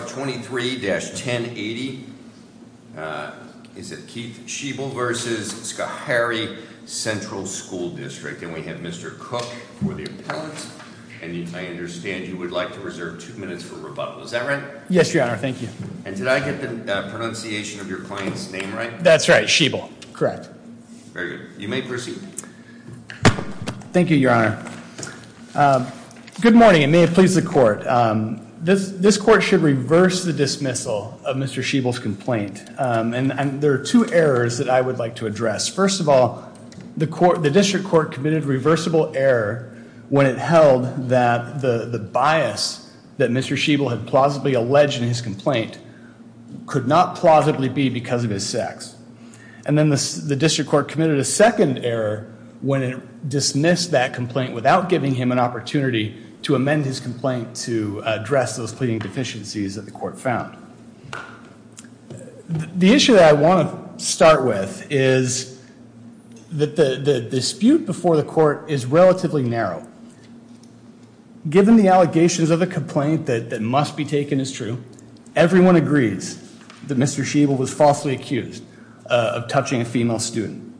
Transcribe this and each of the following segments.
23-1080, is it Keith Schiebel v. Schoharie Central School District. And we have Mr. Cook for the appellant. And I understand you would like to reserve two minutes for rebuttal, is that right? Yes, your honor, thank you. And did I get the pronunciation of your client's name right? That's right, Schiebel, correct. Very good, you may proceed. Good morning, and may it please the court. This court should reverse the dismissal of Mr. Schiebel's complaint. And there are two errors that I would like to address. First of all, the district court committed reversible error when it held that the bias that Mr. Schiebel had plausibly alleged in his complaint could not plausibly be because of his sex. And then the district court committed a second error when it dismissed that complaint without giving him an opportunity to amend his complaint to address those pleading deficiencies that the court found. The issue that I want to start with is that the dispute before the court is relatively narrow. Given the allegations of a complaint that must be taken as true, everyone agrees that Mr. Schiebel was falsely accused of touching a female student.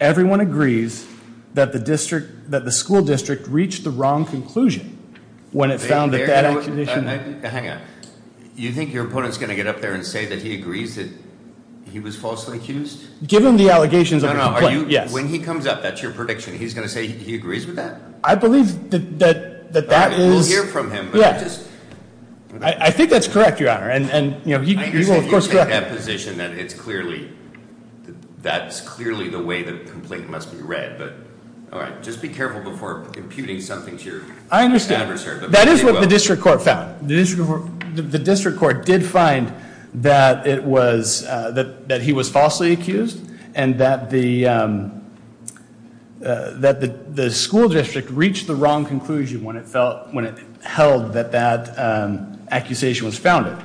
Everyone agrees that the school district reached the wrong conclusion when it found that that accusation- Hang on, you think your opponent's going to get up there and say that he agrees that he was falsely accused? Given the allegations of a complaint, yes. When he comes up, that's your prediction. He's going to say he agrees with that? I believe that that was- We'll hear from him, but just- I think that's correct, Your Honor, and he will, of course, correct me. I have a position that it's clearly, that's clearly the way the complaint must be read, but all right. Just be careful before imputing something to your adversary. I understand, that is what the district court found. The district court did find that he was falsely accused, and that the school district reached the wrong conclusion when it held that that accusation was founded.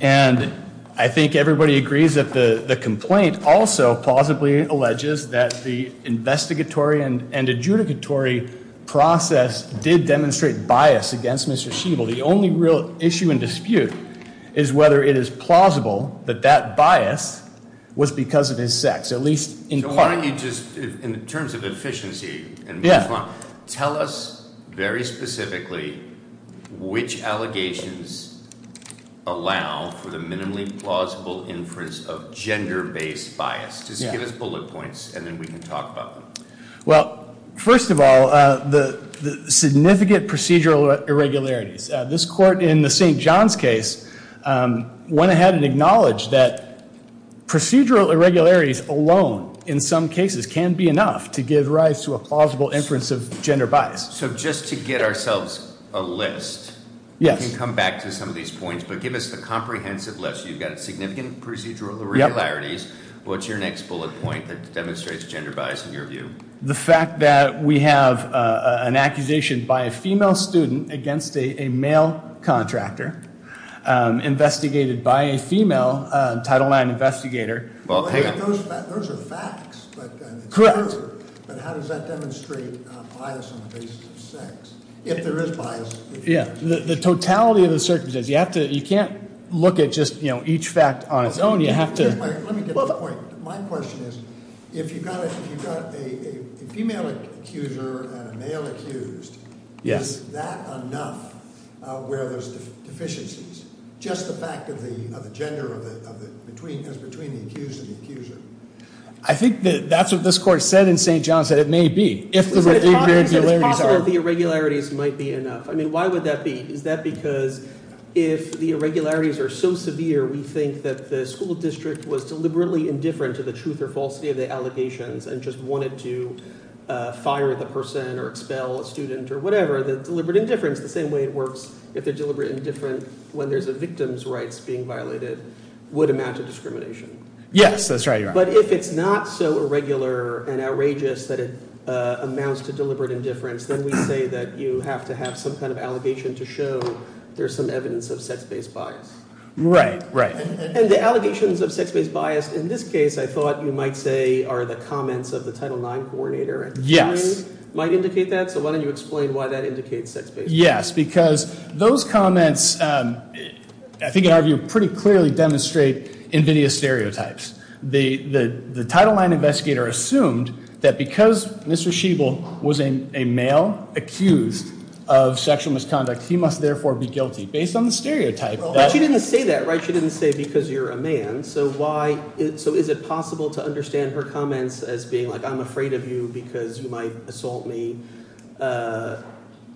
And I think everybody agrees that the complaint also plausibly alleges that the investigatory and adjudicatory process did demonstrate bias against Mr. Schieble. The only real issue and dispute is whether it is plausible that that bias was because of his sex, at least in- So why don't you just, in terms of efficiency and- Yeah. Tell us very specifically which allegations allow for the minimally plausible inference of gender-based bias. Just give us bullet points, and then we can talk about them. Well, first of all, the significant procedural irregularities. This court in the St. John's case went ahead and acknowledged that procedural irregularities alone, in some cases, can be enough to give rise to a plausible inference of gender bias. So just to get ourselves a list. Yes. You can come back to some of these points, but give us the comprehensive list. You've got a significant procedural irregularities. What's your next bullet point that demonstrates gender bias in your view? The fact that we have an accusation by a female student against a male contractor investigated by a female title nine investigator. Well, those are facts, but- Correct. But how does that demonstrate bias on the basis of sex, if there is bias? Yeah, the totality of the circumstances. You can't look at just each fact on its own. You have to- Let me get to the point. My question is, if you've got a female accuser and a male accused, is that enough where there's deficiencies? Just the fact of the gender that's between the accused and the accuser. I think that's what this court said in St. John's, that it may be. If the irregularities are- Is it possible that the irregularities might be enough? I mean, why would that be? Is that because if the irregularities are so severe, we think that the school district was deliberately indifferent to the truth or falsity of the allegations and just wanted to fire the person or expel a student or whatever. Or the deliberate indifference, the same way it works, if they're deliberate indifferent when there's a victim's rights being violated, would amount to discrimination. Yes, that's right, you're right. But if it's not so irregular and outrageous that it amounts to deliberate indifference, then we say that you have to have some kind of allegation to show there's some evidence of sex-based bias. Right, right. And the allegations of sex-based bias, in this case, I thought you might say, are the comments of the Title IX coordinator. Yes. Might indicate that, so why don't you explain why that indicates sex-based bias? Yes, because those comments, I think in our view, pretty clearly demonstrate invidious stereotypes. The Title IX investigator assumed that because Mr. Schiebel was a male accused of sexual misconduct, he must therefore be guilty. Based on the stereotype- But she didn't say that, right? She didn't say because you're a man, so why, so is it possible to understand her comments as being like, I'm afraid of you because you might assault me,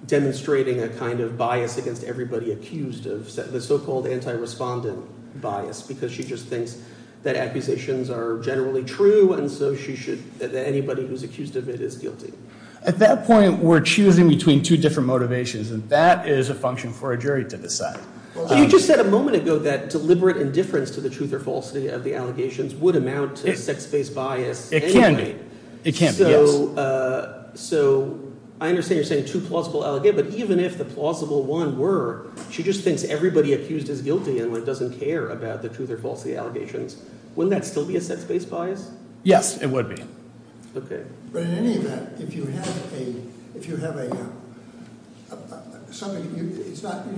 demonstrating a kind of bias against everybody accused of the so-called anti-respondent bias. Because she just thinks that accusations are generally true, and so she should, that anybody who's accused of it is guilty. At that point, we're choosing between two different motivations, and that is a function for a jury to decide. You just said a moment ago that deliberate indifference to the truth or falsity of the allegations would amount to sex-based bias anyway. It can be, it can be, yes. So I understand you're saying two plausible, but even if the plausible one were, she just thinks everybody accused is guilty and doesn't care about the truth or falsity allegations. Wouldn't that still be a sex-based bias? Yes, it would be. Okay. But in any event, if you have a, you don't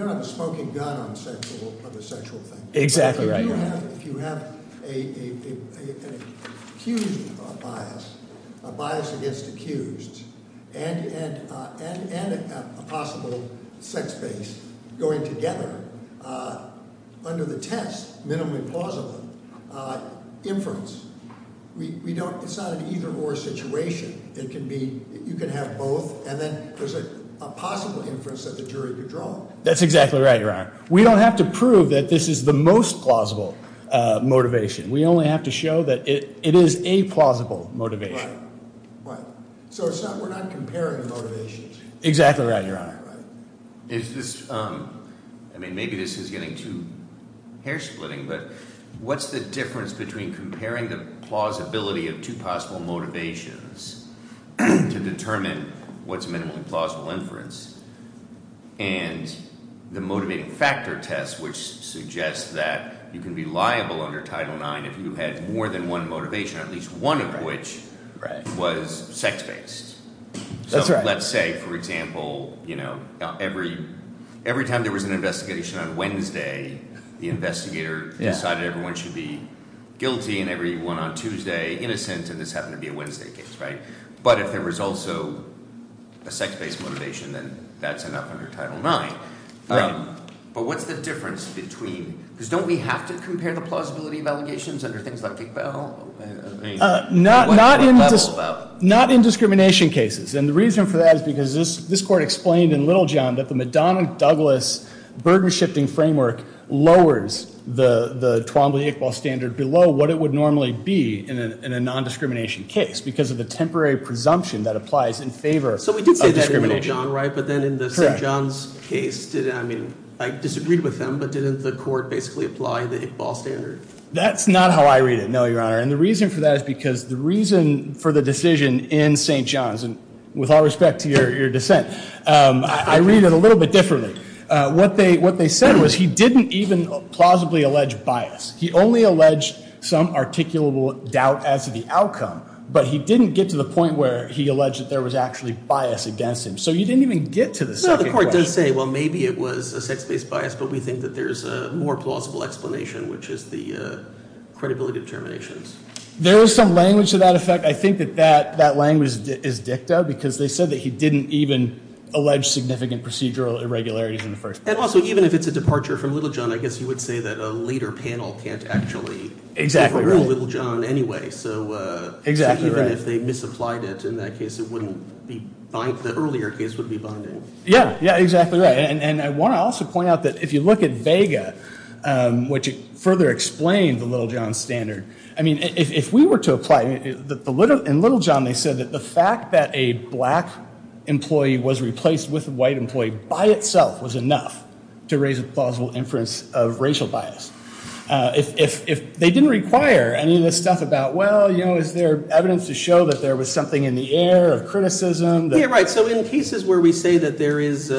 have a smoking gun on the sexual thing. Exactly right, yeah. If you have a huge bias, a bias against accused, and a possible sex-based going together, under the test, minimally plausible, inference. We don't, it's not an either or situation. It can be, you can have both, and then there's a possible inference that the jury could draw. That's exactly right, Your Honor. We don't have to prove that this is the most plausible motivation. We only have to show that it is a plausible motivation. Right, right. So it's not, we're not comparing the motivations. Exactly right, Your Honor. Is this, I mean, maybe this is getting too hair splitting, but what's the difference between comparing the plausibility of two possible motivations to determine what's minimally plausible inference, and the motivating factor test, which suggests that you can be liable under Title IX if you had more than one motivation, at least one of which was sex-based. So let's say, for example, every time there was an investigation on Wednesday, the investigator decided everyone should be guilty, and everyone on Tuesday innocent, and this happened to be a Wednesday case, right? But if there was also a sex-based motivation, then that's enough under Title IX. Right. But what's the difference between, because don't we have to compare the plausibility of allegations under things like Big Bell? Not in discrimination cases, and the reason for that is because this court explained in Little John that the Madonna-Douglas burden shifting framework lowers the Twombly-Iqbal standard below what it would normally be in a non-discrimination case, because of the temporary presumption that applies in favor of discrimination. So we did say that in Little John, right, but then in the St. John's case, I mean, I disagreed with them, but didn't the court basically apply the Iqbal standard? That's not how I read it, no, Your Honor. And the reason for that is because the reason for the decision in St. John's, and with all respect to your dissent, I read it a little bit differently. What they said was he didn't even plausibly allege bias. He only alleged some articulable doubt as to the outcome, but he didn't get to the point where he alleged that there was actually bias against him. So you didn't even get to the second question. No, the court does say, well, maybe it was a sex-based bias, but we think that there's a more plausible explanation, which is the credibility determinations. There is some language to that effect. I think that that language is dicta, because they said that he didn't even allege significant procedural irregularities in the first place. And also, even if it's a departure from Little John, I guess you would say that a later panel can't actually- Exactly right. Overrule Little John anyway, so- Exactly right. Even if they misapplied it, in that case, it wouldn't be, the earlier case would be binding. Yeah, yeah, exactly right, and I want to also point out that if you look at Vega, which further explained the Little John standard, I mean, if we were to apply, in Little John, they said that the fact that a black employee was replaced with a white employee by itself was enough to raise a plausible inference of racial bias. If they didn't require any of this stuff about, well, you know, is there evidence to show that there was something in the air of criticism? Yeah, right. So in cases where we say that there is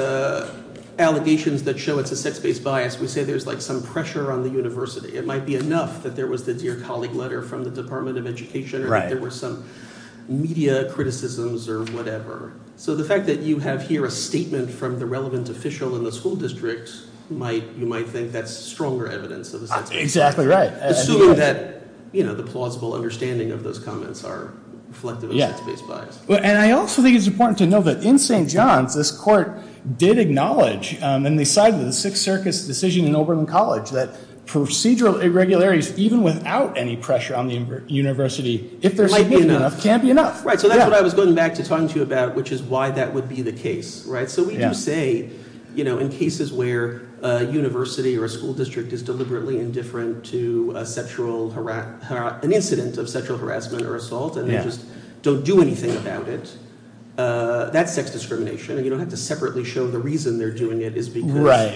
allegations that show it's a sex-based bias, we say there's like some pressure on the university. It might be enough that there was the dear colleague letter from the Department of Education, or there were some media criticisms, or whatever. So the fact that you have here a statement from the relevant official in the school district, you might think that's stronger evidence of a sex-based bias. Exactly right. Assuming that the plausible understanding of those comments are reflective of sex-based bias. And I also think it's important to know that in St. John's, this court did acknowledge, and they cited the Sixth Circus decision in Oberlin College, that procedural irregularities, even without any pressure on the university, if there might be enough, can't be enough. Right, so that's what I was going back to talking to you about, which is why that would be the case, right? So we do say, in cases where a university or a school district is deliberately indifferent to an incident of sexual harassment or assault, and they just don't do anything about it, that's sex discrimination. And you don't have to separately show the reason they're doing it is because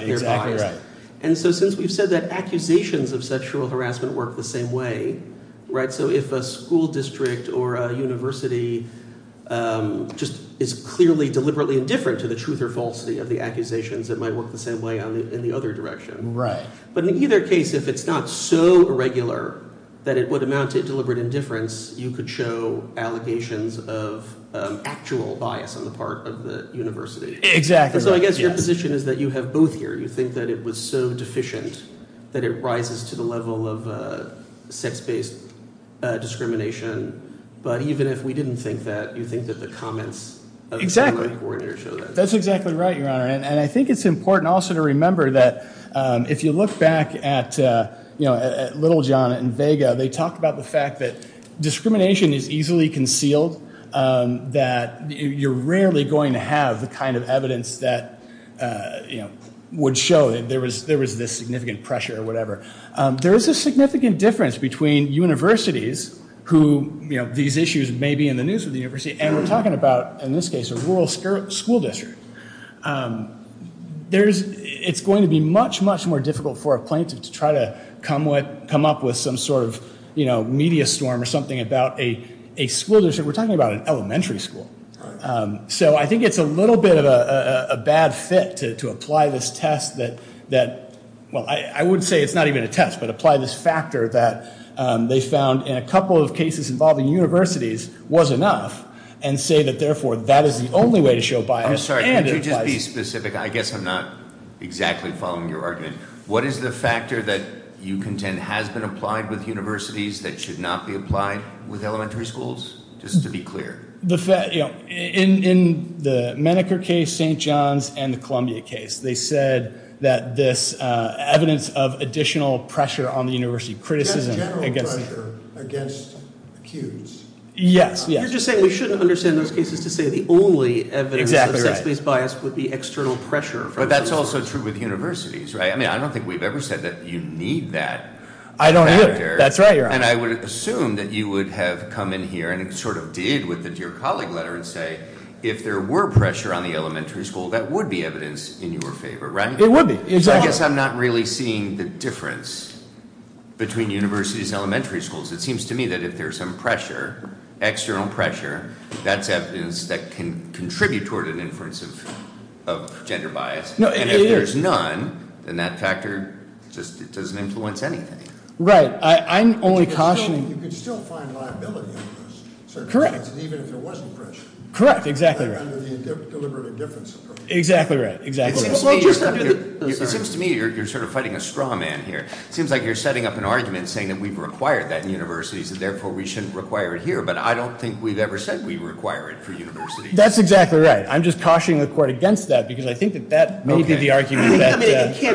they're biased. Right. And so since we've said that accusations of sexual harassment work the same way, right? So if a school district or a university just is clearly deliberately indifferent to the truth or falsity of the accusations, it might work the same way in the other direction. Right. But in either case, if it's not so irregular that it would amount to deliberate indifference, you could show allegations of actual bias on the part of the university. Exactly right, yes. So I guess your position is that you have both here. You think that it was so deficient that it rises to the level of sex-based discrimination. But even if we didn't think that, you think that the comments of the school board coordinator show that. That's exactly right, your honor. And I think it's important also to remember that if you look back at Little John and Vega, they talk about the fact that discrimination is easily concealed. That you're rarely going to have the kind of evidence that would show that there was this significant pressure or whatever. There is a significant difference between universities who, these issues may be in the news with the university. And we're talking about, in this case, a rural school district. It's going to be much, much more difficult for a plaintiff to try to come up with some sort of media storm or something about a school district. We're talking about an elementary school. So I think it's a little bit of a bad fit to apply this test that, well, I would say it's not even a test, but apply this factor that they found in a couple of cases involving universities was enough. And say that, therefore, that is the only way to show bias, and it applies- I'm sorry, could you just be specific? I guess I'm not exactly following your argument. What is the factor that you contend has been applied with universities that should not be applied with elementary schools? Just to be clear. The fact, in the Menneker case, St. John's, and the Columbia case, they said that this evidence of additional pressure on the university. Criticism against- That's general pressure against accused. Yes, yes. You're just saying we shouldn't understand those cases to say the only evidence of sex-based bias would be external pressure. But that's also true with universities, right? I mean, I don't think we've ever said that you need that factor. I don't either. That's right, you're right. And I would assume that you would have come in here and sort of did with your colleague letter and say if there were pressure on the elementary school, that would be evidence in your favor, right? It would be, exactly. I guess I'm not really seeing the difference between universities and elementary schools. It seems to me that if there's some pressure, external pressure, that's evidence that can contribute toward an inference of gender bias. And if there's none, then that factor just doesn't influence anything. Right, I'm only cautioning- You could still find liability on this. Correct. Even if there wasn't pressure. Correct, exactly right. Under the deliberate indifference approach. Exactly right, exactly right. It seems to me you're sort of fighting a straw man here. It seems like you're setting up an argument saying that we've required that in universities and therefore we shouldn't require it here. But I don't think we've ever said we require it for universities. That's exactly right. I'm just cautioning the court against that because I think that that may be the argument that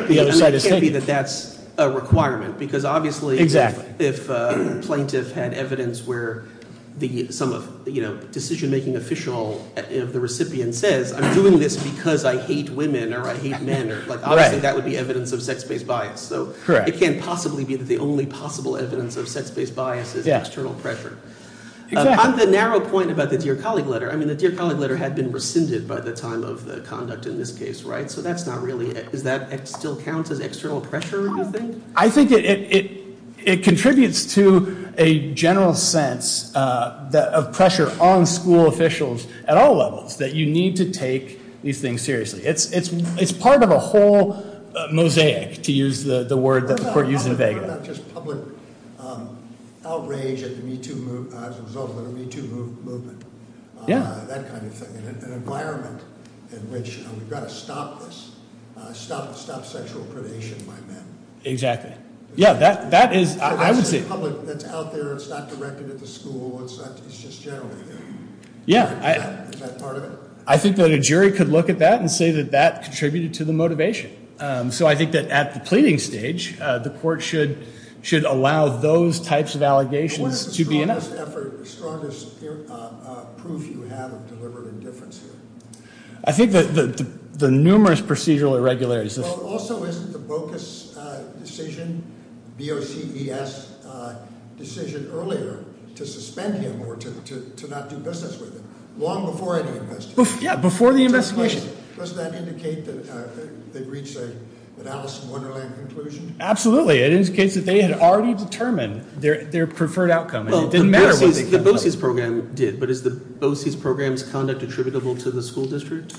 the other side is saying. It can't be that that's a requirement because obviously if a plaintiff had evidence where the decision making official of the recipient says I'm doing this because I hate women or I hate men, obviously that would be evidence of sex-based bias. So it can't possibly be that the only possible evidence of sex-based bias is external pressure. On the narrow point about the Dear Colleague letter, I mean the Dear Colleague letter had been rescinded by the time of the conduct in this case, right? So that's not really, does that still count as external pressure, do you think? I think it contributes to a general sense of pressure on school officials at all levels that you need to take these things seriously. It's part of a whole mosaic, to use the word that the court used in Vega. It's not just public outrage as a result of the Me Too movement. That kind of thing, an environment in which we've got to stop this, stop sexual predation by men. Exactly. Yeah, that is, I would say- That's public, that's out there, it's not directed at the school, it's just generated. Yeah. Is that part of it? I think that a jury could look at that and say that that contributed to the motivation. So I think that at the pleading stage, the court should allow those types of allegations to be enough. What is the strongest proof you have of deliberate indifference here? I think that the numerous procedural irregularities. Well, also isn't the Bocas decision, B-O-C-V-S decision earlier to suspend him or to not do business with him long before any investigation? Yeah, before the investigation. Does that indicate that they've reached an Alice in Wonderland conclusion? Absolutely, it indicates that they had already determined their preferred outcome. And it didn't matter what they- The BOCES program did, but is the BOCES program's conduct attributable to the school district?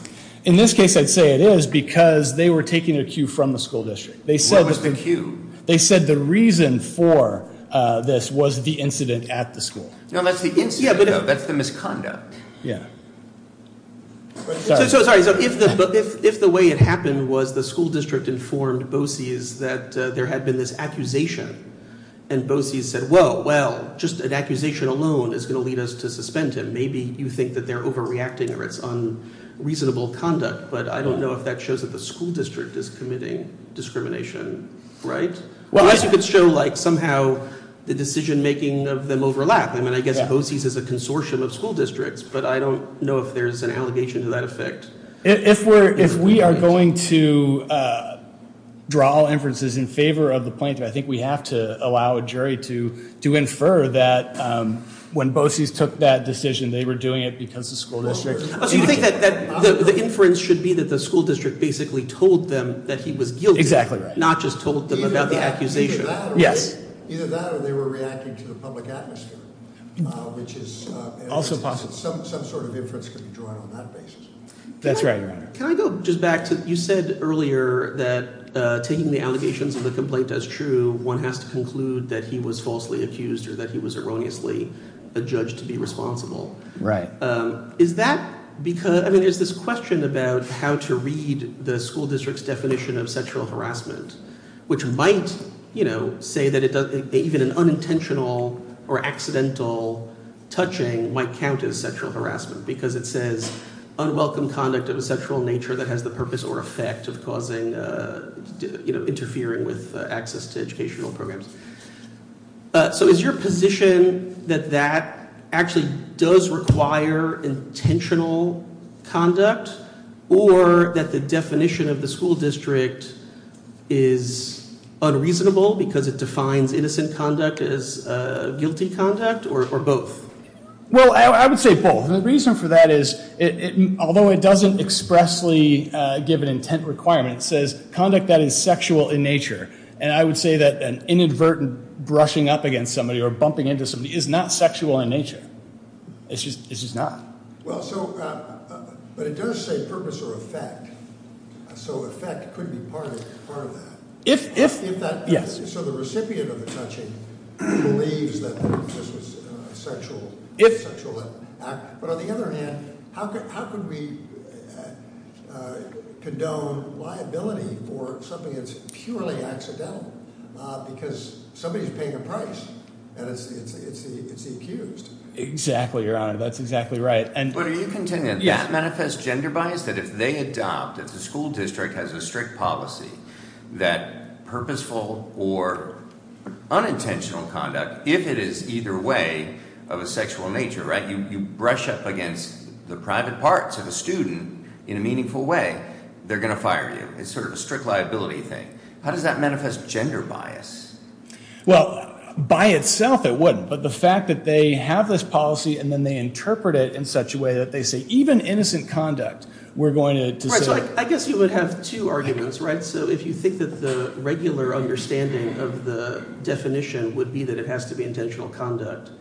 In this case, I'd say it is because they were taking a cue from the school district. They said- What was the cue? They said the reason for this was the incident at the school. No, that's the incident though, that's the misconduct. Yeah. So, sorry, so if the way it happened was the school district informed BOCES that there had been this accusation. And BOCES said, well, well, just an accusation alone is going to lead us to suspend him. Maybe you think that they're overreacting or it's unreasonable conduct, but I don't know if that shows that the school district is committing discrimination, right? Well, unless you could show somehow the decision making of them overlap. I mean, I guess BOCES is a consortium of school districts, but I don't know if there's an allegation to that effect. If we are going to draw inferences in favor of the plaintiff, I think we have to allow a jury to infer that when BOCES took that decision, they were doing it because the school district- So you think that the inference should be that the school district basically told them that he was guilty. Exactly right. Not just told them about the accusation. Yes. Either that or they were reacting to the public atmosphere, which is- Also possible. Some sort of inference can be drawn on that basis. That's right, your honor. Can I go just back to, you said earlier that taking the allegations of the complaint as true, one has to conclude that he was falsely accused or that he was erroneously adjudged to be responsible. Right. Is that because, I mean, there's this question about how to read the school district's definition of sexual harassment, which might say that even an unintentional or accidental touching might count as sexual harassment. Because it says, unwelcome conduct of a sexual nature that has the purpose or effect of causing, interfering with access to educational programs. So is your position that that actually does require intentional conduct or that the definition of the school district is unreasonable because it defines innocent conduct as guilty conduct or both? Well, I would say both. The reason for that is, although it doesn't expressly give an intent requirement, it says conduct that is sexual in nature. And I would say that an inadvertent brushing up against somebody or bumping into somebody is not sexual in nature. It's just not. Well, so, but it does say purpose or effect, so effect could be part of that. If that, so the recipient of the touching believes that this was a sexual act. But on the other hand, how could we condone liability for something that's purely accidental because somebody's paying a price and it's the accused. Exactly, your honor, that's exactly right. And- But are you contending that that manifests gender bias? That if they adopt, if the school district has a strict policy that purposeful or unintentional conduct, if it is either way of a sexual nature, right? You brush up against the private parts of a student in a meaningful way, they're going to fire you. It's sort of a strict liability thing. How does that manifest gender bias? Well, by itself it wouldn't, but the fact that they have this policy and then they interpret it in such a way that they say even innocent conduct, we're going to- Right, so I guess you would have two arguments, right? So if you think that the regular understanding of the definition would be that it has to be intentional conduct.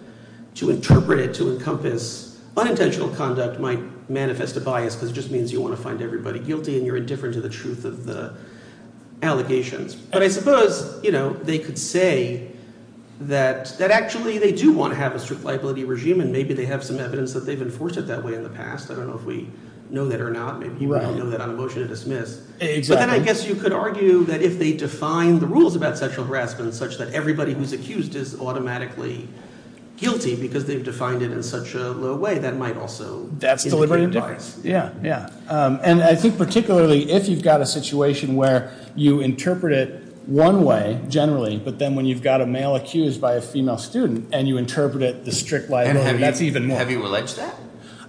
To interpret it to encompass unintentional conduct might manifest a bias because it just means you want to find everybody guilty and you're indifferent to the truth of the allegations. But I suppose they could say that actually they do want to have a strict liability regime and maybe they have some evidence that they've enforced it that way in the past. I don't know if we know that or not. Maybe you don't know that on a motion to dismiss. Exactly. But then I guess you could argue that if they define the rules about sexual harassment such that everybody who's accused is automatically guilty because they've defined it in such a low way, that might also- That's deliberate indifference. Yeah, yeah. And I think particularly if you've got a situation where you interpret it one way, generally, but then when you've got a male accused by a female student and you interpret it the strict liability, that's even more. Have you alleged that?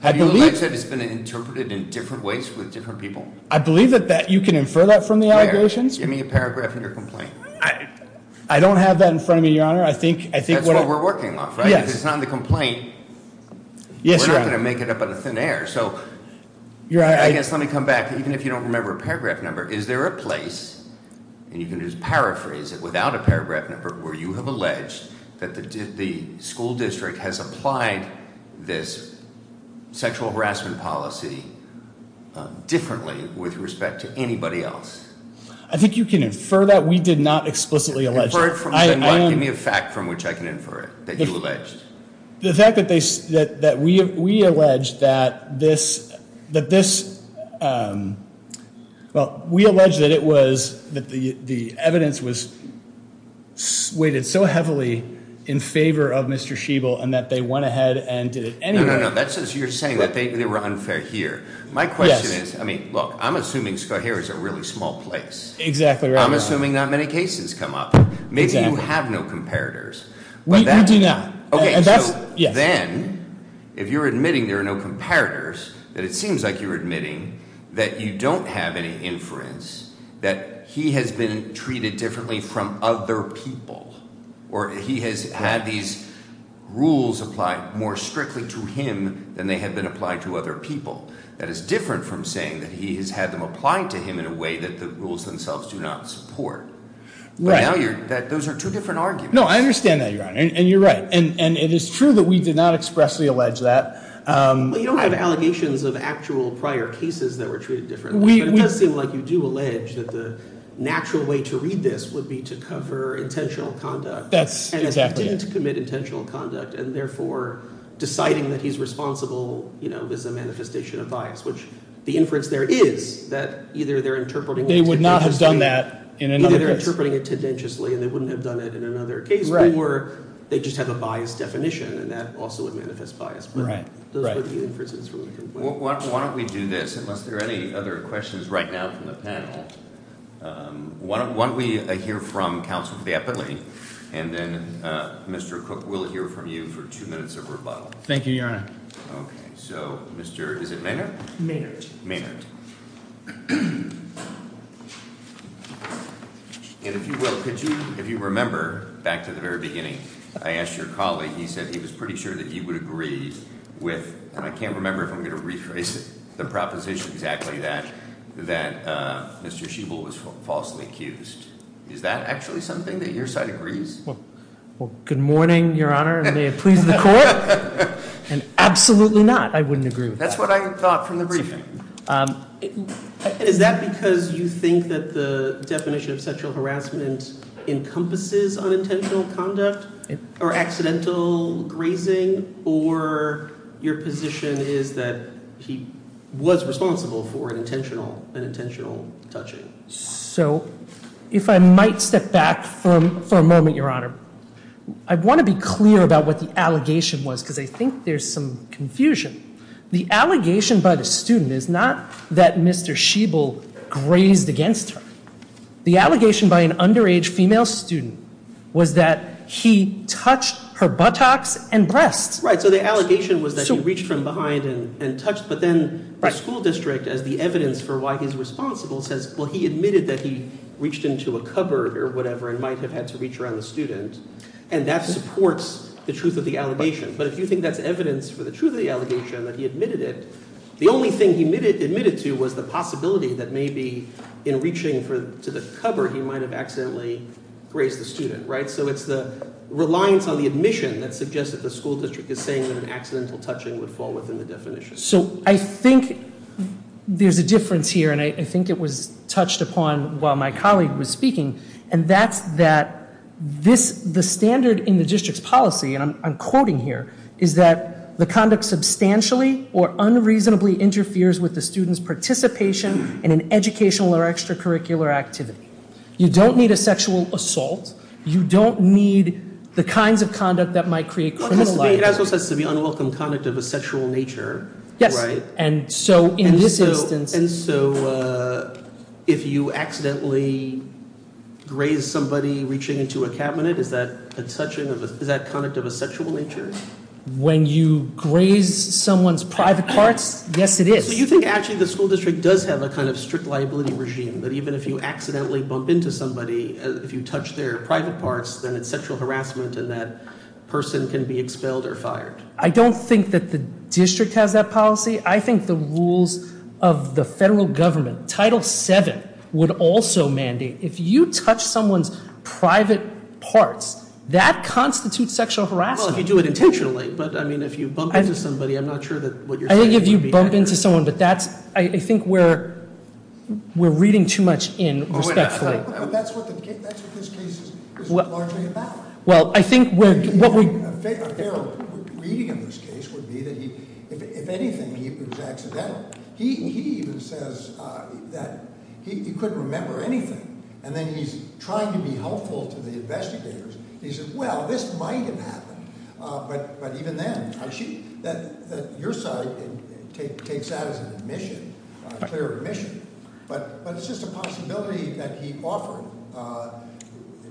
Have you alleged that it's been interpreted in different ways with different people? I believe that you can infer that from the allegations. Give me a paragraph of your complaint. I don't have that in front of me, your honor. I think- That's what we're working off, right? If it's not in the complaint, we're not going to make it up out of thin air. So, I guess let me come back, even if you don't remember a paragraph number. Is there a place, and you can just paraphrase it without a paragraph number, where you have alleged that the school district has applied this sexual harassment policy differently with respect to anybody else? I think you can infer that. We did not explicitly allege that. Give me a fact from which I can infer it, that you alleged. The fact that we allege that this, well, we allege that the evidence was weighted so heavily in favor of Mr. Sheeble and that they went ahead and did it anyway. No, no, no, that's as you're saying, that they were unfair here. My question is, I mean, look, I'm assuming Scohare is a really small place. Exactly right, your honor. I'm assuming not many cases come up. Maybe you have no comparators. We do not. Okay, so then, if you're admitting there are no comparators, then it seems like you're admitting that you don't have any inference that he has been treated differently from other people. Or he has had these rules applied more strictly to him than they have been applied to other people. That is different from saying that he has had them applied to him in a way that the rules themselves do not support. But now those are two different arguments. No, I understand that, your honor, and you're right. And it is true that we did not expressly allege that. Well, you don't have allegations of actual prior cases that were treated differently. But it does seem like you do allege that the natural way to read this would be to cover intentional conduct. That's exactly it. And it didn't commit intentional conduct, and therefore, deciding that he's responsible is a manifestation of bias, which the inference there is that either they're interpreting- They would not have done that in another case. Either they're interpreting it tendentiously, and they wouldn't have done it in another case, or they just have a biased definition, and that also would manifest bias. But those would be inferences from the complaint. Why don't we do this, unless there are any other questions right now from the panel. Why don't we hear from Counsel Bappley, and then Mr. Cook will hear from you for two minutes of rebuttal. Thank you, your honor. Okay, so Mr., is it Maynard? Maynard. Maynard. And if you will, could you, if you remember, back to the very beginning, I asked your colleague, he said he was pretty sure that he would agree with, and I can't remember if I'm going to rephrase it, the proposition exactly that Mr. Schiebel was falsely accused. Is that actually something that your side agrees? Well, good morning, your honor, and may it please the court. And absolutely not, I wouldn't agree with that. That's what I thought from the briefing. And is that because you think that the definition of sexual harassment encompasses unintentional conduct or accidental grazing, or your position is that he was responsible for an intentional touching? So, if I might step back for a moment, your honor. I want to be clear about what the allegation was, because I think there's some confusion. The allegation by the student is not that Mr. Schiebel grazed against her. The allegation by an underage female student was that he touched her buttocks and breasts. Right, so the allegation was that he reached from behind and touched, but then the school district, as the evidence for why he's responsible, says, well, he admitted that he reached into a cupboard or whatever and might have had to reach around the student, and that supports the truth of the allegation. But if you think that's evidence for the truth of the allegation, that he admitted it, the only thing he admitted to was the possibility that maybe in reaching to the cupboard, he might have accidentally grazed the student, right? So it's the reliance on the admission that suggests that the school district is saying that an accidental touching would fall within the definition. So I think there's a difference here, and I think it was touched upon while my colleague was speaking. And that's that the standard in the district's policy, and I'm quoting here, is that the conduct substantially or unreasonably interferes with the student's participation in an educational or extracurricular activity. You don't need a sexual assault. You don't need the kinds of conduct that might create criminal liability. It also says to be unwelcome conduct of a sexual nature, right? Yes, and so in this instance- If you accidentally graze somebody reaching into a cabinet, is that a touching of a, is that conduct of a sexual nature? When you graze someone's private parts, yes it is. So you think actually the school district does have a kind of strict liability regime, that even if you accidentally bump into somebody, if you touch their private parts, then it's sexual harassment and that person can be expelled or fired. I don't think that the district has that policy. I think the rules of the federal government, Title VII, would also mandate, if you touch someone's private parts, that constitutes sexual harassment. Well, if you do it intentionally, but I mean, if you bump into somebody, I'm not sure that what you're saying would be accurate. I think if you bump into someone, but that's, I think we're reading too much in respectfully. That's what this case is largely about. Well, I think what we- A fair reading of this case would be that he, if anything, he was accidental. He even says that he couldn't remember anything. And then he's trying to be helpful to the investigators. He says, well, this might have happened. But even then, I see that your side takes that as an admission, a clear admission. But it's just a possibility that he offered,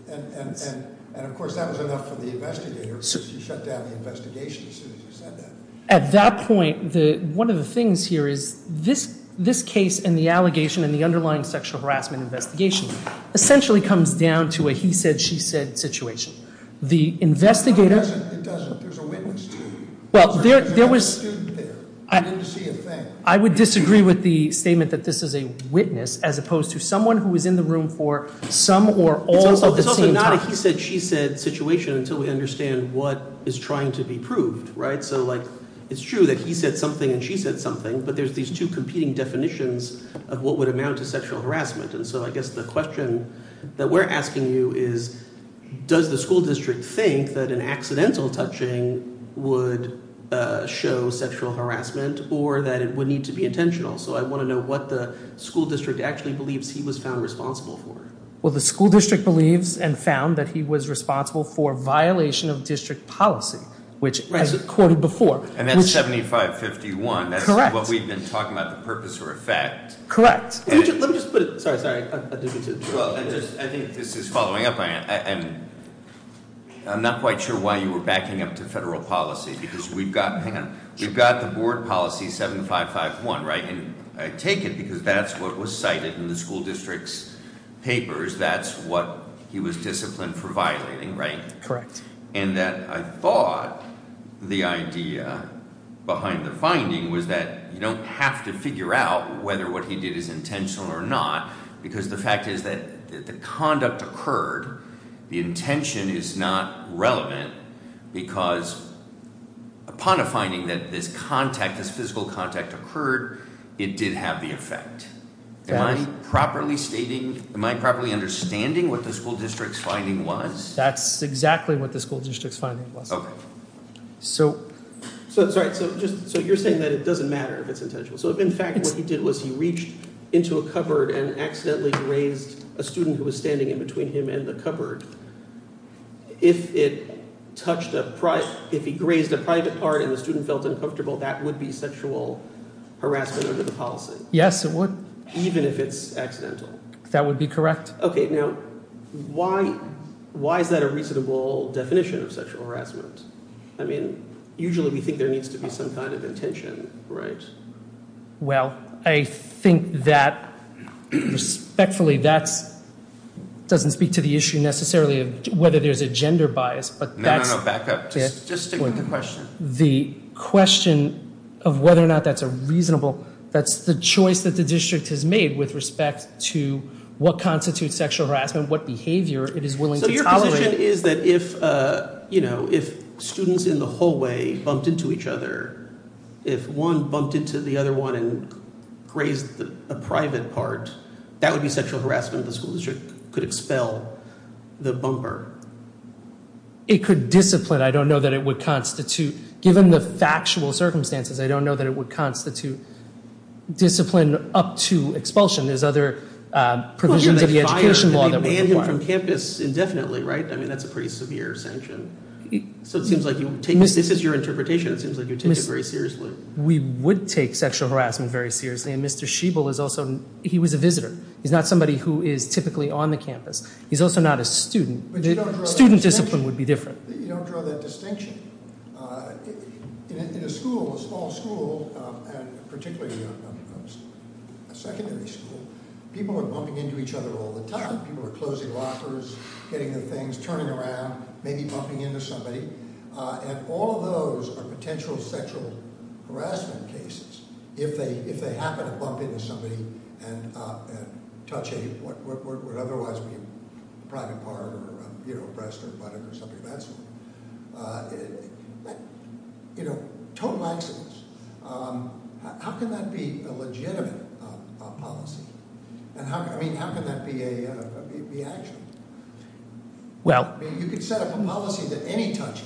and of course, that was enough for the investigator, because you shut down the investigation as soon as you said that. At that point, one of the things here is this case and the allegation and the underlying sexual harassment investigation essentially comes down to a he said, she said situation. The investigator- It doesn't, there's a witness to it. Well, there was- There's a student there. I didn't see a thing. I would disagree with the statement that this is a witness, as opposed to someone who was in the room for some or all at the same time. It's not a he said, she said situation until we understand what is trying to be proved, right? So it's true that he said something and she said something, but there's these two competing definitions of what would amount to sexual harassment. And so I guess the question that we're asking you is, does the school district think that an accidental touching would show sexual harassment or that it would need to be intentional? So I want to know what the school district actually believes he was found responsible for. Well, the school district believes and found that he was responsible for violation of district policy, which as he quoted before. And that's 7551, that's what we've been talking about, the purpose or effect. Correct. Let me just put it, sorry, sorry, I didn't mean to. Well, I think this is following up, and I'm not quite sure why you were backing up to federal policy, because we've got, hang on, we've got the board policy 7551, right? And I take it because that's what was cited in the school district's papers, that's what he was disciplined for violating, right? Correct. And that I thought the idea behind the finding was that you don't have to figure out whether what he did is intentional or not. Because the fact is that the conduct occurred, the intention is not relevant. Because upon a finding that this contact, this physical contact occurred, it did have the effect. Am I properly stating, am I properly understanding what the school district's finding was? That's exactly what the school district's finding was. Okay. So, sorry, so just, so you're saying that it doesn't matter if it's intentional. So if in fact what he did was he reached into a cupboard and accidentally raised a student who was standing in between him and the cupboard. If it touched a, if he grazed a private part and the student felt uncomfortable, that would be sexual harassment under the policy. Yes, it would. Even if it's accidental. That would be correct. Okay, now, why is that a reasonable definition of sexual harassment? I mean, usually we think there needs to be some kind of intention, right? Well, I think that, respectfully, that doesn't speak to the issue necessarily of whether there's a gender bias. But that's- No, no, no, back up, just stick with the question. The question of whether or not that's a reasonable, that's the choice that the district has made with respect to what constitutes sexual harassment, what behavior it is willing to tolerate. So your position is that if students in the hallway bumped into each other, if one bumped into the other one and grazed a private part, that would be sexual harassment, the school district could expel the bumper. It could discipline, I don't know that it would constitute, given the factual circumstances, I don't know that it would constitute discipline up to expulsion. There's other provisions of the education law that would require- Well, you're going to fire, and they ban him from campus indefinitely, right? I mean, that's a pretty severe sanction. So it seems like you take, this is your interpretation. It seems like you take it very seriously. We would take sexual harassment very seriously. And Mr. Sheeble is also, he was a visitor. He's not somebody who is typically on the campus. He's also not a student. But you don't draw that distinction. Student discipline would be different. You don't draw that distinction. In a school, a small school, and particularly a secondary school, people are bumping into each other all the time, people are closing lockers, getting the things, turning around, maybe bumping into somebody. And all of those are potential sexual harassment cases. If they happen to bump into somebody and touch a what would otherwise be a private part or breast or butt or something, that sort of thing. Total excellence, how can that be a legitimate policy? I mean, how can that be actionable? Well- I mean, you could set up a policy that any touch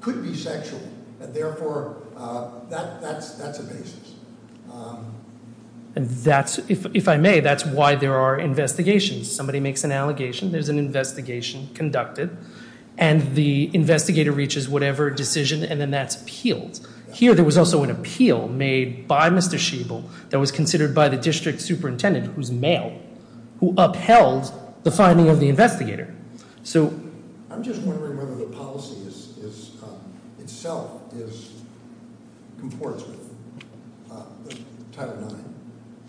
could be sexual, and therefore, that's a basis. And that's, if I may, that's why there are investigations. Somebody makes an allegation, there's an investigation conducted. And the investigator reaches whatever decision, and then that's appealed. Here, there was also an appeal made by Mr. Sheeble that was considered by the district superintendent, who's male, who upheld the finding of the investigator. So- I'm just wondering whether the policy itself is in accordance with Title IX.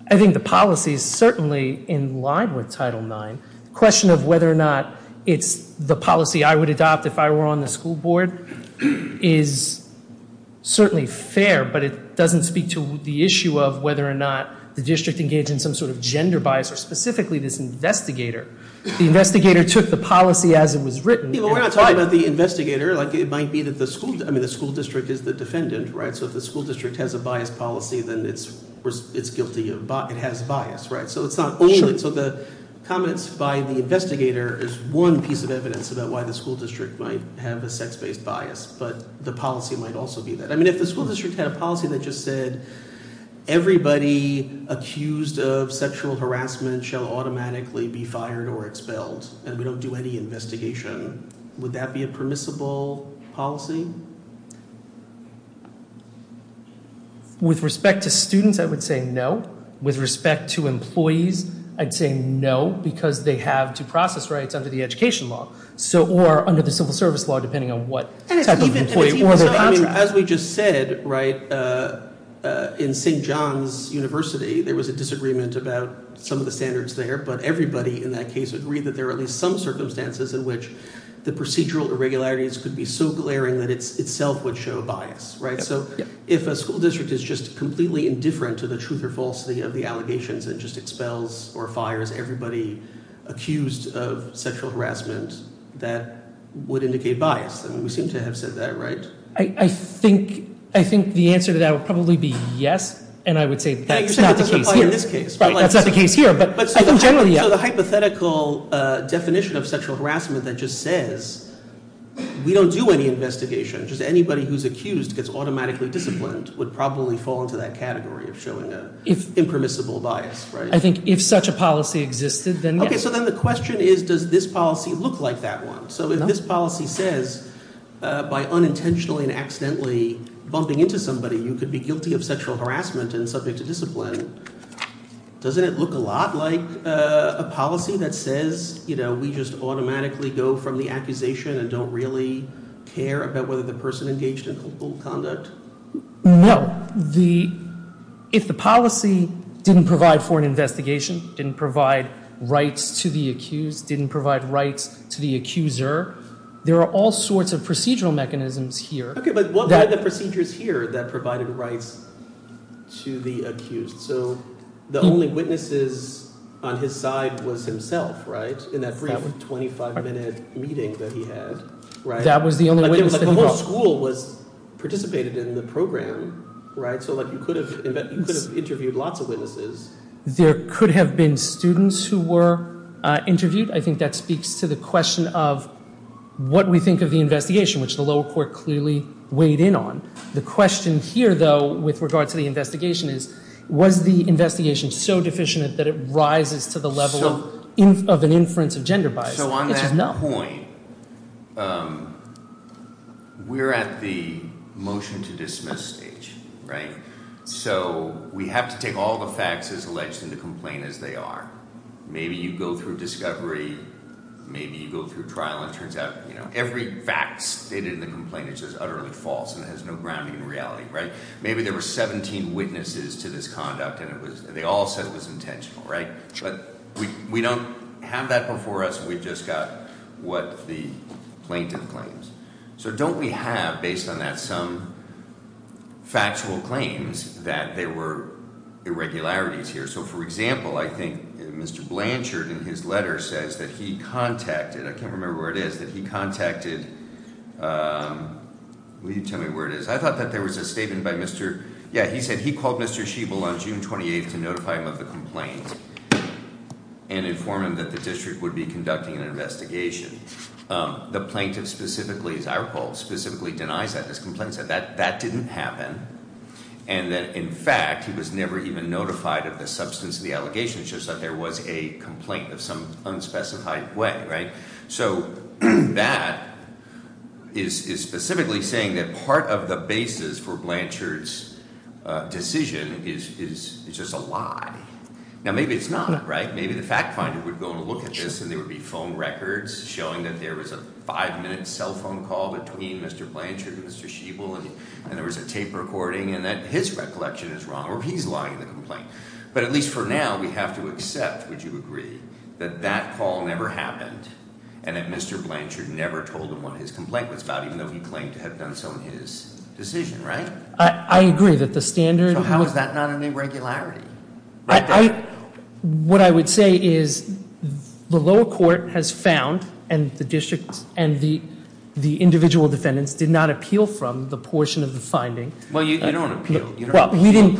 I think the policy is certainly in line with Title IX. The question of whether or not it's the policy I would adopt if I were on the school board is certainly fair, but it doesn't speak to the issue of whether or not the district engaged in some sort of gender bias, or specifically this investigator. The investigator took the policy as it was written. Yeah, but we're not talking about the investigator, it might be that the school district is the defendant, right? So if the school district has a biased policy, then it's guilty, it has bias, right? So it's not only, so the comments by the investigator is one piece of evidence about why the school district might have a sex-based bias. But the policy might also be that. I mean, if the school district had a policy that just said, everybody accused of sexual harassment shall automatically be fired or expelled, and we don't do any investigation. Would that be a permissible policy? With respect to students, I would say no. With respect to employees, I'd say no, because they have due process rights under the education law. So, or under the civil service law, depending on what type of employee or their contract. As we just said, right, in St. John's University, there was a disagreement about some of the standards there. But everybody in that case agreed that there are at least some circumstances in which the procedural irregularities could be so glaring that it itself would show bias, right? So if a school district is just completely indifferent to the truth or falsity of the allegations and just expels or fires everybody accused of sexual harassment, that would indicate bias. I mean, we seem to have said that, right? I think the answer to that would probably be yes, and I would say that's not the case here. You're saying it doesn't apply in this case. Right, that's not the case here, but I think generally, yeah. So the hypothetical definition of sexual harassment that just says, we don't do any investigation, just anybody who's accused gets automatically disciplined, would probably fall into that category of showing an impermissible bias, right? I think if such a policy existed, then yes. Okay, so then the question is, does this policy look like that one? So if this policy says, by unintentionally and accidentally bumping into somebody, you could be guilty of sexual harassment and subject to discipline, doesn't it look a lot like a policy that says we just automatically go from the accusation and don't really care about whether the person engaged in ill conduct? No, if the policy didn't provide for an investigation, didn't provide rights to the accused, didn't provide rights to the accuser, there are all sorts of procedural mechanisms here. Okay, but what are the procedures here that provided rights to the accused? So the only witnesses on his side was himself, right? In that brief 25 minute meeting that he had, right? That was the only witness that he brought. The whole school participated in the program, right? So you could have interviewed lots of witnesses. There could have been students who were interviewed. I think that speaks to the question of what we think of the investigation, which the lower court clearly weighed in on. The question here, though, with regard to the investigation is, was the investigation so deficient that it rises to the level of an inference of gender bias? It's just not. So on that point, we're at the motion to dismiss stage, right? So we have to take all the facts as alleged in the complaint as they are. Maybe you go through discovery, maybe you go through trial and it turns out every fact stated in the complaint is just utterly false and has no grounding in reality, right? Maybe there were 17 witnesses to this conduct and they all said it was intentional, right? But we don't have that before us, we've just got what the plaintiff claims. So don't we have, based on that, some factual claims that there were irregularities here? So for example, I think Mr. Blanchard in his letter says that he contacted, I can't remember where it is, that he contacted, will you tell me where it is? I thought that there was a statement by Mr., yeah, he said he called Mr. Sheeble on June 28th to notify him of the complaint and inform him that the district would be conducting an investigation. The plaintiff specifically, as I recall, specifically denies that, this complainant said that that didn't happen. And that in fact, he was never even notified of the substance of the allegation, it's just that there was a complaint of some unspecified way, right? So that is specifically saying that part of the basis for Blanchard's decision is just a lie. Now maybe it's not, right? Maybe the fact finder would go and look at this and there would be phone records showing that there was a five minute cell phone call between Mr. Blanchard and Mr. Sheeble. And there was a tape recording and that his recollection is wrong, or he's lying in the complaint. But at least for now, we have to accept, would you agree, that that call never happened? And that Mr. Blanchard never told him what his complaint was about, even though he claimed to have done so in his decision, right? I agree that the standard- So how is that not an irregularity? What I would say is the lower court has found, and the district, and the individual defendants did not appeal from the portion of the finding. Well, you don't appeal. Well, we didn't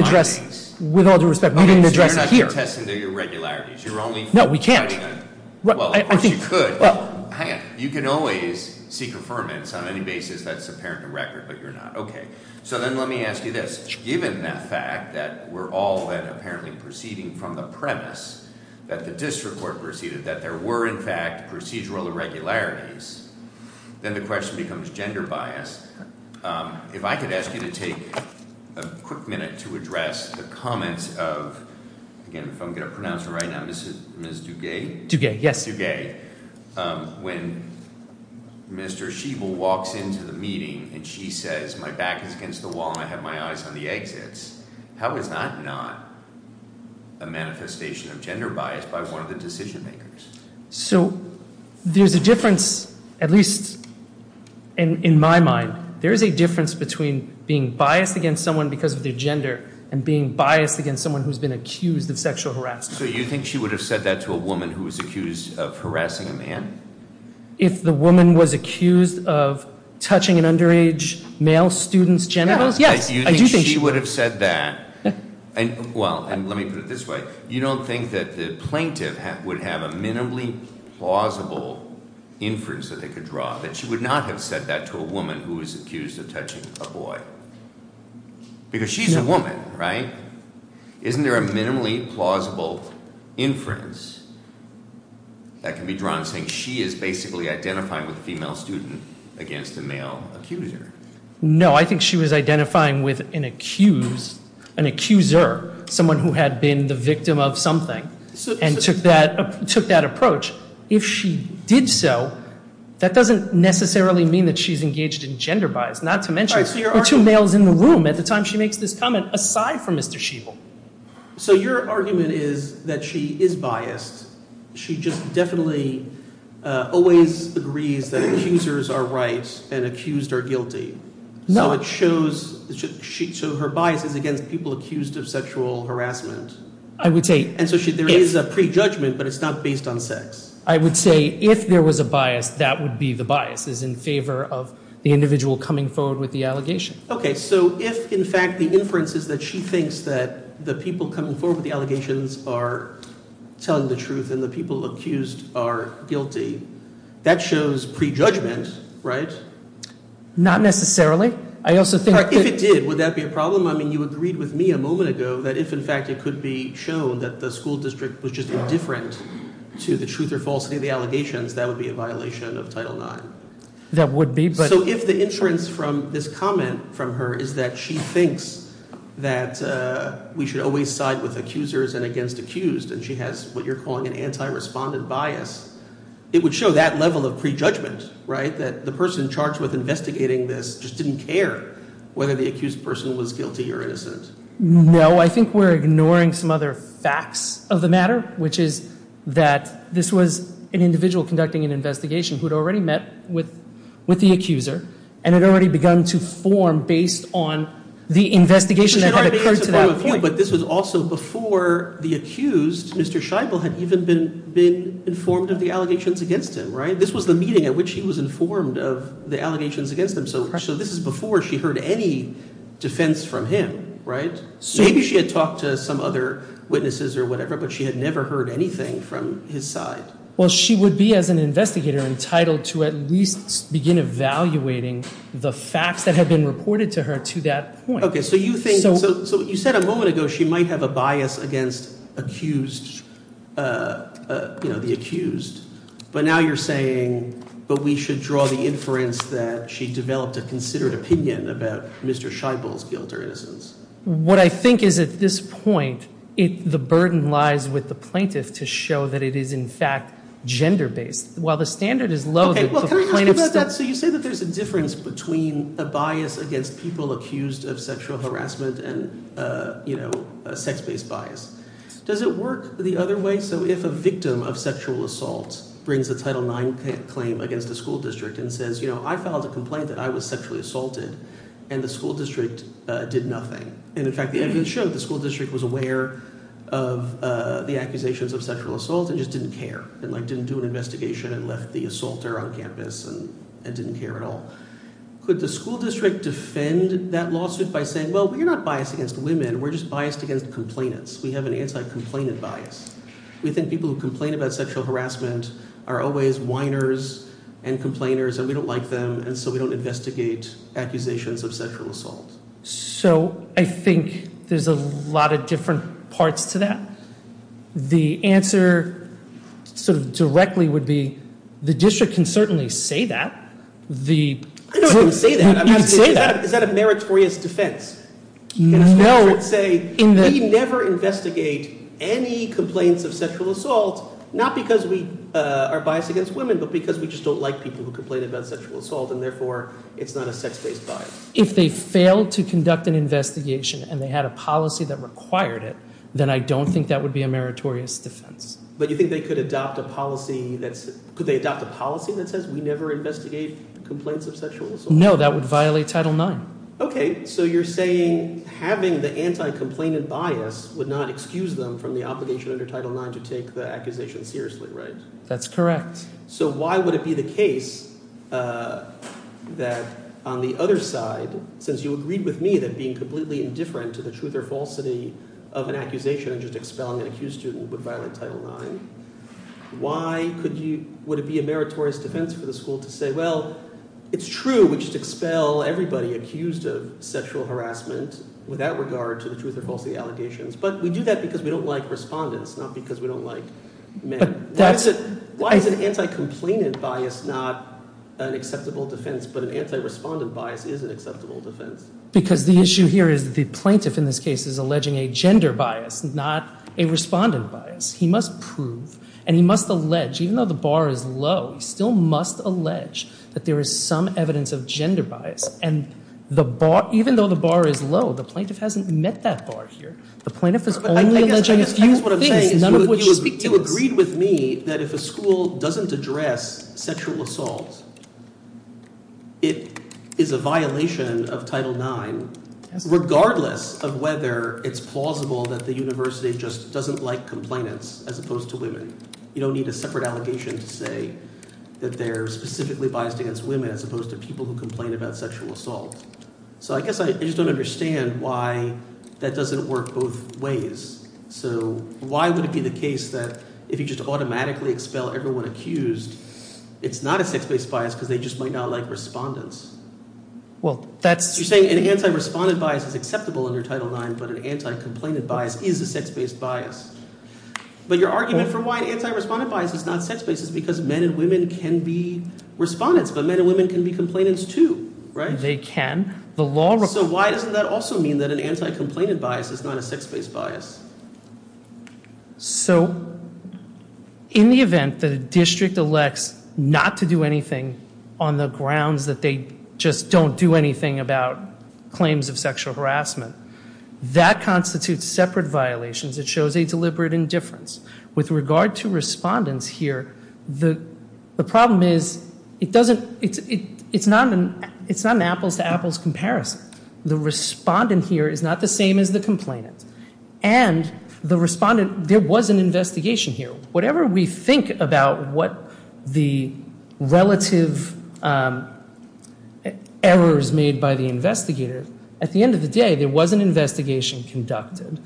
address, with all due respect, we didn't address it here. Okay, so you're not contesting the irregularities, you're only- No, we can't. Well, of course you could, hang on, you can always seek affirmance on any basis that's apparent to record, but you're not, okay. So then let me ask you this, given the fact that we're all then apparently proceeding from the premise that the district court proceeded, that there were in fact procedural irregularities, then the question becomes gender bias. If I could ask you to take a quick minute to address the comments of, again, if I'm going to pronounce it right now, Ms. Dugay? Dugay, yes. Ms. Dugay, when Mr. Sheeble walks into the meeting and she says, my back is against the wall and I have my eyes on the exits, how is that not a manifestation of gender bias by one of the decision makers? So there's a difference, at least in my mind, there is a difference between being biased against someone because of their gender and being biased against someone who's been accused of sexual harassment. So you think she would have said that to a woman who was accused of harassing a man? If the woman was accused of touching an underage male student's genitals? Yes, I do think she would have said that. And well, let me put it this way. You don't think that the plaintiff would have a minimally plausible inference that they could draw, that she would not have said that to a woman who was accused of touching a boy? Because she's a woman, right? Isn't there a minimally plausible inference that can be drawn, saying she is basically identifying with a female student against a male accuser? No, I think she was identifying with an accuser, someone who had been the victim of something and took that approach. If she did so, that doesn't necessarily mean that she's engaged in gender bias, not to mention- There are two males in the room at the time she makes this comment, aside from Mr. Sheevil. So your argument is that she is biased. She just definitely always agrees that accusers are right and accused are guilty. No. So her bias is against people accused of sexual harassment. I would say- And so there is a prejudgment, but it's not based on sex. I would say if there was a bias, that would be the biases in favor of the individual coming forward with the allegation. Okay, so if in fact the inference is that she thinks that the people coming forward with the allegations are telling the truth and the people accused are guilty, that shows prejudgment, right? Not necessarily. I also think- If it did, would that be a problem? I mean, you agreed with me a moment ago that if in fact it could be shown that the school district was just indifferent to the truth or falsity of the allegations, that would be a violation of Title IX. That would be, but- So if the inference from this comment from her is that she thinks that we should always side with accusers and against accused and she has what you're calling an anti-respondent bias, it would show that level of prejudgment, right? That the person charged with investigating this just didn't care whether the accused person was guilty or innocent. No, I think we're ignoring some other facts of the matter, which is that this was an already begun to form based on the investigation that had occurred to that point. But this was also before the accused, Mr. Scheibel, had even been informed of the allegations against him, right? This was the meeting at which he was informed of the allegations against him, so this is before she heard any defense from him, right? Maybe she had talked to some other witnesses or whatever, but she had never heard anything from his side. Well, she would be, as an investigator, entitled to at least begin evaluating the facts that have been reported to her to that point. Okay, so you said a moment ago she might have a bias against the accused, but now you're saying, but we should draw the inference that she developed a considered opinion about Mr. Scheibel's guilt or innocence. What I think is at this point, the burden lies with the plaintiff to show that it is in fact gender-based. While the standard is low, the plaintiff's— Okay, well, can I ask about that? So you say that there's a difference between a bias against people accused of sexual harassment and a sex-based bias. Does it work the other way? So if a victim of sexual assault brings a Title IX claim against a school district and says, you know, I filed a complaint that I was sexually assaulted, and the school district did nothing, and in fact, the evidence showed the school district was aware of the accusations of sexual assault and just didn't care, and didn't do an investigation and left the assaulter on campus and didn't care at all, could the school district defend that lawsuit by saying, well, we're not biased against women. We're just biased against complainants. We have an anti-complainant bias. We think people who complain about sexual harassment are always whiners and complainers, and we don't like them, and so we don't investigate accusations of sexual assault. So I think there's a lot of different parts to that. The answer sort of directly would be, the district can certainly say that. I know it can say that. You can say that. Is that a meritorious defense? No. Can the district say, we never investigate any complaints of sexual assault, not because we are biased against women, but because we just don't like people who complain about sexual assault, and therefore, it's not a sex-based bias. If they failed to conduct an investigation and they had a policy that required it, then I don't think that would be a meritorious defense. But you think they could adopt a policy that says, we never investigate complaints of sexual assault? No, that would violate Title IX. OK. So you're saying having the anti-complainant bias would not excuse them from the obligation under Title IX to take the accusation seriously, right? That's correct. So why would it be the case that on the other side, since you agreed with me that being indifferent to the truth or falsity of an accusation and just expelling an accused student would violate Title IX, why would it be a meritorious defense for the school to say, well, it's true, we just expel everybody accused of sexual harassment with that regard to the truth or falsity allegations. But we do that because we don't like respondents, not because we don't like men. Why is an anti-complainant bias not an acceptable defense, but an anti-respondent bias is an acceptable defense? Because the issue here is the plaintiff in this case is alleging a gender bias, not a respondent bias. He must prove, and he must allege, even though the bar is low, he still must allege that there is some evidence of gender bias. And even though the bar is low, the plaintiff hasn't met that bar here. The plaintiff is only alleging a few things, none of which speak to this. You agreed with me that if a school doesn't address sexual assault, it is a violation of Title IX, regardless of whether it's plausible that the university just doesn't like complainants as opposed to women. You don't need a separate allegation to say that they're specifically biased against women as opposed to people who complain about sexual assault. So I guess I just don't understand why that doesn't work both ways. So why would it be the case that if you just automatically expel everyone accused, it's not a sex-based bias because they just might not like respondents? Well, that's... You're saying an anti-respondent bias is acceptable under Title IX, but an anti-complainant bias is a sex-based bias. But your argument for why an anti-respondent bias is not sex-based is because men and women can be respondents, but men and women can be complainants too, right? They can. The law... So why doesn't that also mean that an anti-complainant bias is not a sex-based bias? So in the event that a district elects not to do anything on the grounds that they just don't do anything about claims of sexual harassment, that constitutes separate violations. It shows a deliberate indifference. With regard to respondents here, the problem is it doesn't... It's not an apples-to-apples comparison. The respondent here is not the same as the complainant. And the respondent... There was an investigation here. Whatever we think about what the relative errors made by the investigator, at the end of the day, there was an investigation conducted.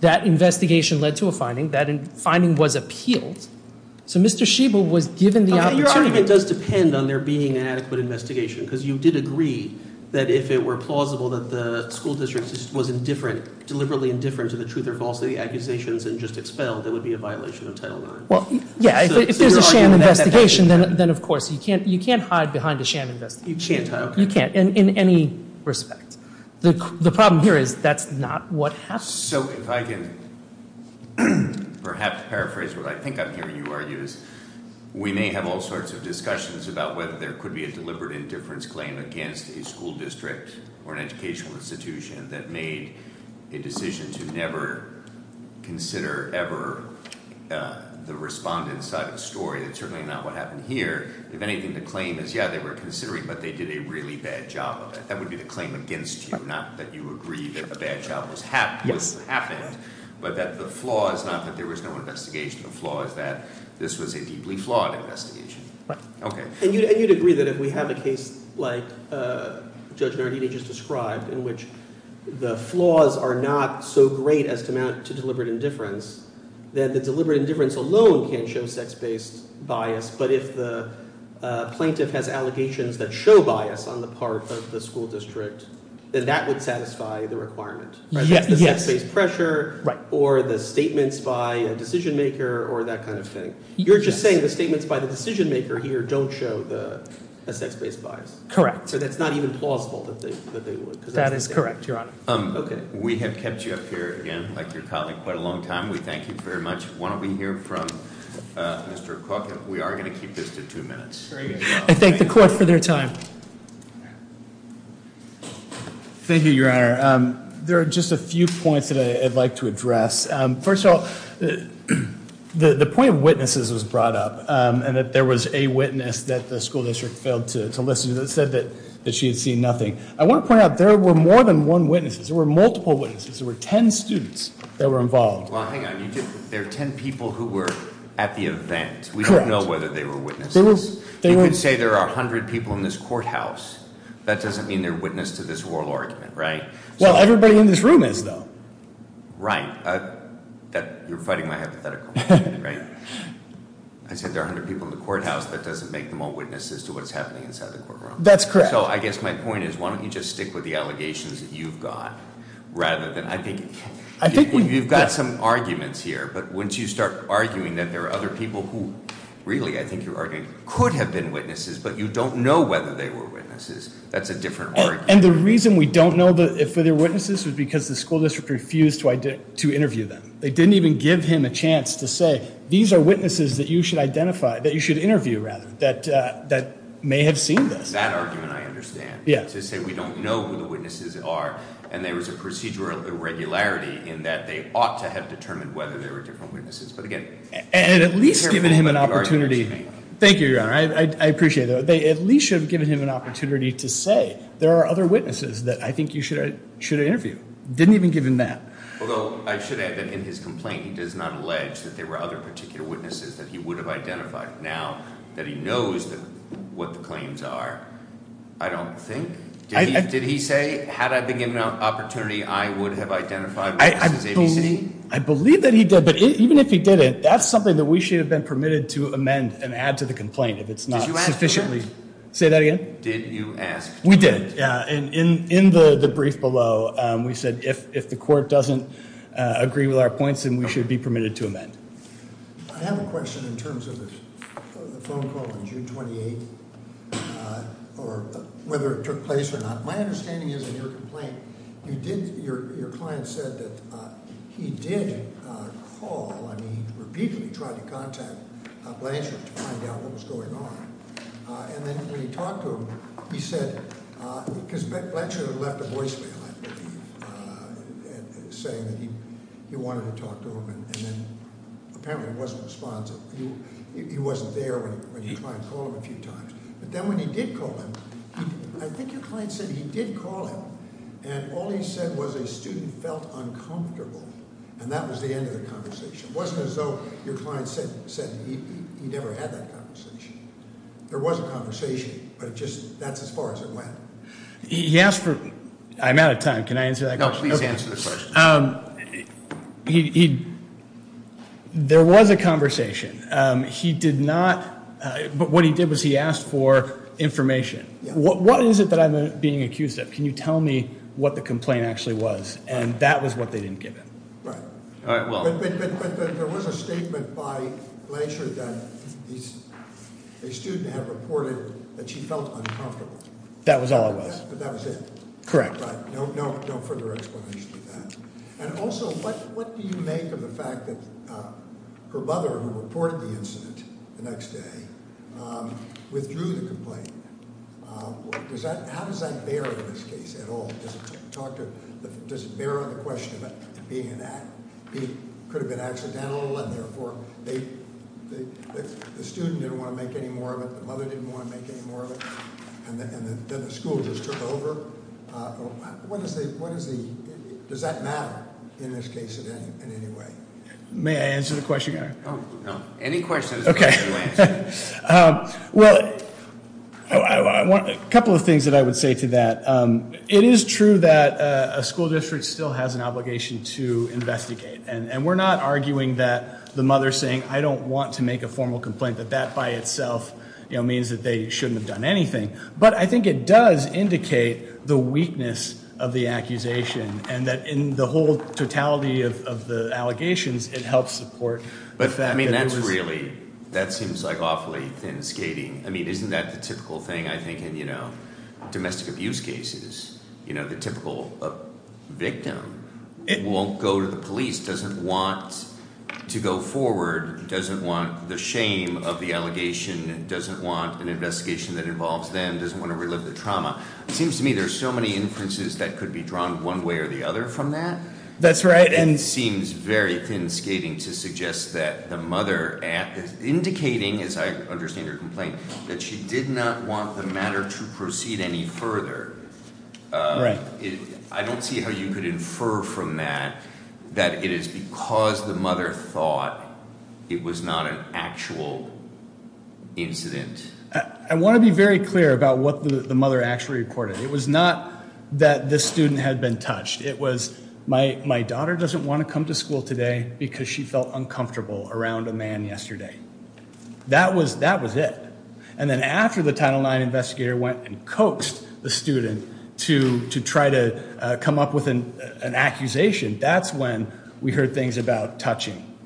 That investigation led to a finding. That finding was appealed. So Mr. Schiebel was given the opportunity... Your argument does depend on there being an adequate investigation because you did agree that if it were plausible that the school district was deliberately indifferent to the truth or false accusations and just expelled, that would be a violation of Title IX. Well, yeah. If there's a sham investigation, then of course you can't hide behind a sham investigation. You can't, okay. You can't in any respect. The problem here is that's not what happened. So if I can perhaps paraphrase what I think I'm hearing you argue is we may have all sorts of discussions about whether there could be a deliberate indifference claim against a school district or an educational institution that made a decision to never consider ever the respondent's side of the story. That's certainly not what happened here. If anything, the claim is, yeah, they were considering, but they did a really bad job of it. That would be the claim against you. Not that you agree that the bad job was happened, but that the flaw is not that there was no investigation. The flaw is that this was a deeply flawed investigation. Right. Okay. And you'd agree that if we have a case like Judge Nardini just described in which the flaws are not so great as to amount to deliberate indifference, then the deliberate indifference alone can show sex-based bias. But if the plaintiff has allegations that show bias on the part of the school district, then that would satisfy the requirement, right? Yes. Sex-based pressure or the statements by a decision-maker or that kind of thing. You're just saying the statements by the decision-maker here don't show the sex-based bias. Correct. So that's not even plausible that they would. That is correct, Your Honor. Okay. We have kept you up here, again, like your colleague, quite a long time. We thank you very much. Why don't we hear from Mr. Cook? We are going to keep this to two minutes. I thank the court for their time. Thank you, Your Honor. There are just a few points that I'd like to address. First of all, the point of witnesses was brought up and that there was a witness that the school district failed to listen to that said that she had seen nothing. I want to point out there were more than one witnesses. There were multiple witnesses. There were 10 students that were involved. Well, hang on. There are 10 people who were at the event. We don't know whether they were witnesses. You could say there are 100 people in this courthouse. That doesn't mean they're witness to this oral argument, right? Everybody in this room is, though. Right. You're fighting my hypothetical, right? I said there are 100 people in the courthouse. That doesn't make them all witnesses to what's happening inside the courtroom. That's correct. I guess my point is, why don't you just stick with the allegations that you've got, rather than, I think you've got some arguments here, but once you start arguing that there are other people who really, I think you're arguing, could have been witnesses, but you don't know whether they were witnesses, that's a different argument. The reason we don't know if they were witnesses was because the school district refused to interview them. They didn't even give him a chance to say, these are witnesses that you should interview that may have seen this. That argument I understand. Yeah. To say we don't know who the witnesses are, and there was a procedural irregularity in that they ought to have determined whether they were different witnesses. But again, you can hear me, but the argument's me. And at least given him an opportunity. Thank you, Your Honor. I appreciate that. They at least should have given him an opportunity to say, there are other witnesses that I think you should interview. Didn't even give him that. Although I should add that in his complaint, he does not allege that there were other particular witnesses that he would have identified. Now that he knows what the claims are, I don't think. Did he say, had I been given an opportunity, I would have identified witnesses ABC? I believe that he did. But even if he didn't, that's something that we should have been permitted to amend and sufficiently. Did you ask for it? Say that again? Did you ask for it? We did. Yeah. And in the brief below, we said if the court doesn't agree with our points, then we should be permitted to amend. I have a question in terms of the phone call on June 28th, or whether it took place or not. My understanding is in your complaint, you did, your client said that he did call, I contacted Blanchard to find out what was going on. And then when he talked to him, he said, because Blanchard had left a voicemail saying that he wanted to talk to him. And then apparently he wasn't responsive. He wasn't there when you try and call him a few times. But then when he did call him, I think your client said he did call him. And all he said was a student felt uncomfortable. And that was the end of the conversation. It wasn't as though your client said he never had that conversation. There was a conversation, but it just, that's as far as it went. He asked for, I'm out of time. Can I answer that question? No, please answer the question. There was a conversation. He did not, but what he did was he asked for information. What is it that I'm being accused of? Can you tell me what the complaint actually was? And that was what they didn't give him. Right. But there was a statement by Blanchard that a student had reported that she felt uncomfortable. That was all it was. But that was it. Correct. But no further explanation of that. And also, what do you make of the fact that her mother, who reported the incident the next day, withdrew the complaint? How does that bear in this case at all? Does it talk to, does it bear on the question of it being an act? It could have been accidental, and therefore the student didn't want to make any more of it, the mother didn't want to make any more of it, and then the school just took over. Does that matter in this case in any way? May I answer the question? Any questions. Okay. Well, a couple of things that I would say to that. It is true that a school district still has an obligation to investigate. And we're not arguing that the mother saying, I don't want to make a formal complaint, that that by itself means that they shouldn't have done anything. But I think it does indicate the weakness of the accusation. And that in the whole totality of the allegations, it helps support the fact that it was- I mean, that's really, that seems like awfully thin skating. I mean, isn't that the typical thing, I think, in domestic abuse cases? You know, the typical victim won't go to the police, doesn't want to go forward, doesn't want the shame of the allegation, doesn't want an investigation that involves them, doesn't want to relive the trauma. It seems to me there's so many inferences that could be drawn one way or the other from that. That's right. And it seems very thin skating to suggest that the mother indicating, as I understand your complaint, that she did not want the matter to proceed any further. Right. I don't see how you could infer from that that it is because the mother thought it was not an actual incident. I want to be very clear about what the mother actually reported. It was not that the student had been touched. It was, my daughter doesn't want to come to school today because she felt uncomfortable around a man yesterday. That was it. And then after the Title IX investigator went and coaxed the student to try to come up with an accusation, that's when we heard things about touching.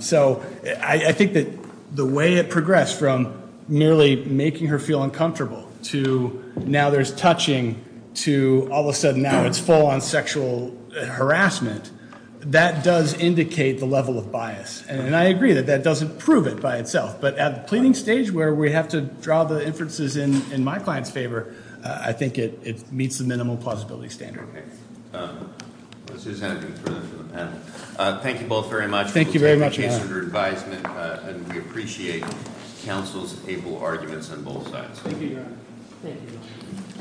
So I think that the way it progressed from merely making her feel uncomfortable to now there's touching to all of a sudden now it's full on sexual harassment, that does indicate the level of bias. And I agree that that doesn't prove it by itself. But at the pleading stage where we have to draw the inferences in my client's favor, I think it meets the minimum plausibility standard. Okay. Thank you both very much. Thank you very much, Your Honor. Thank you, Your Honor.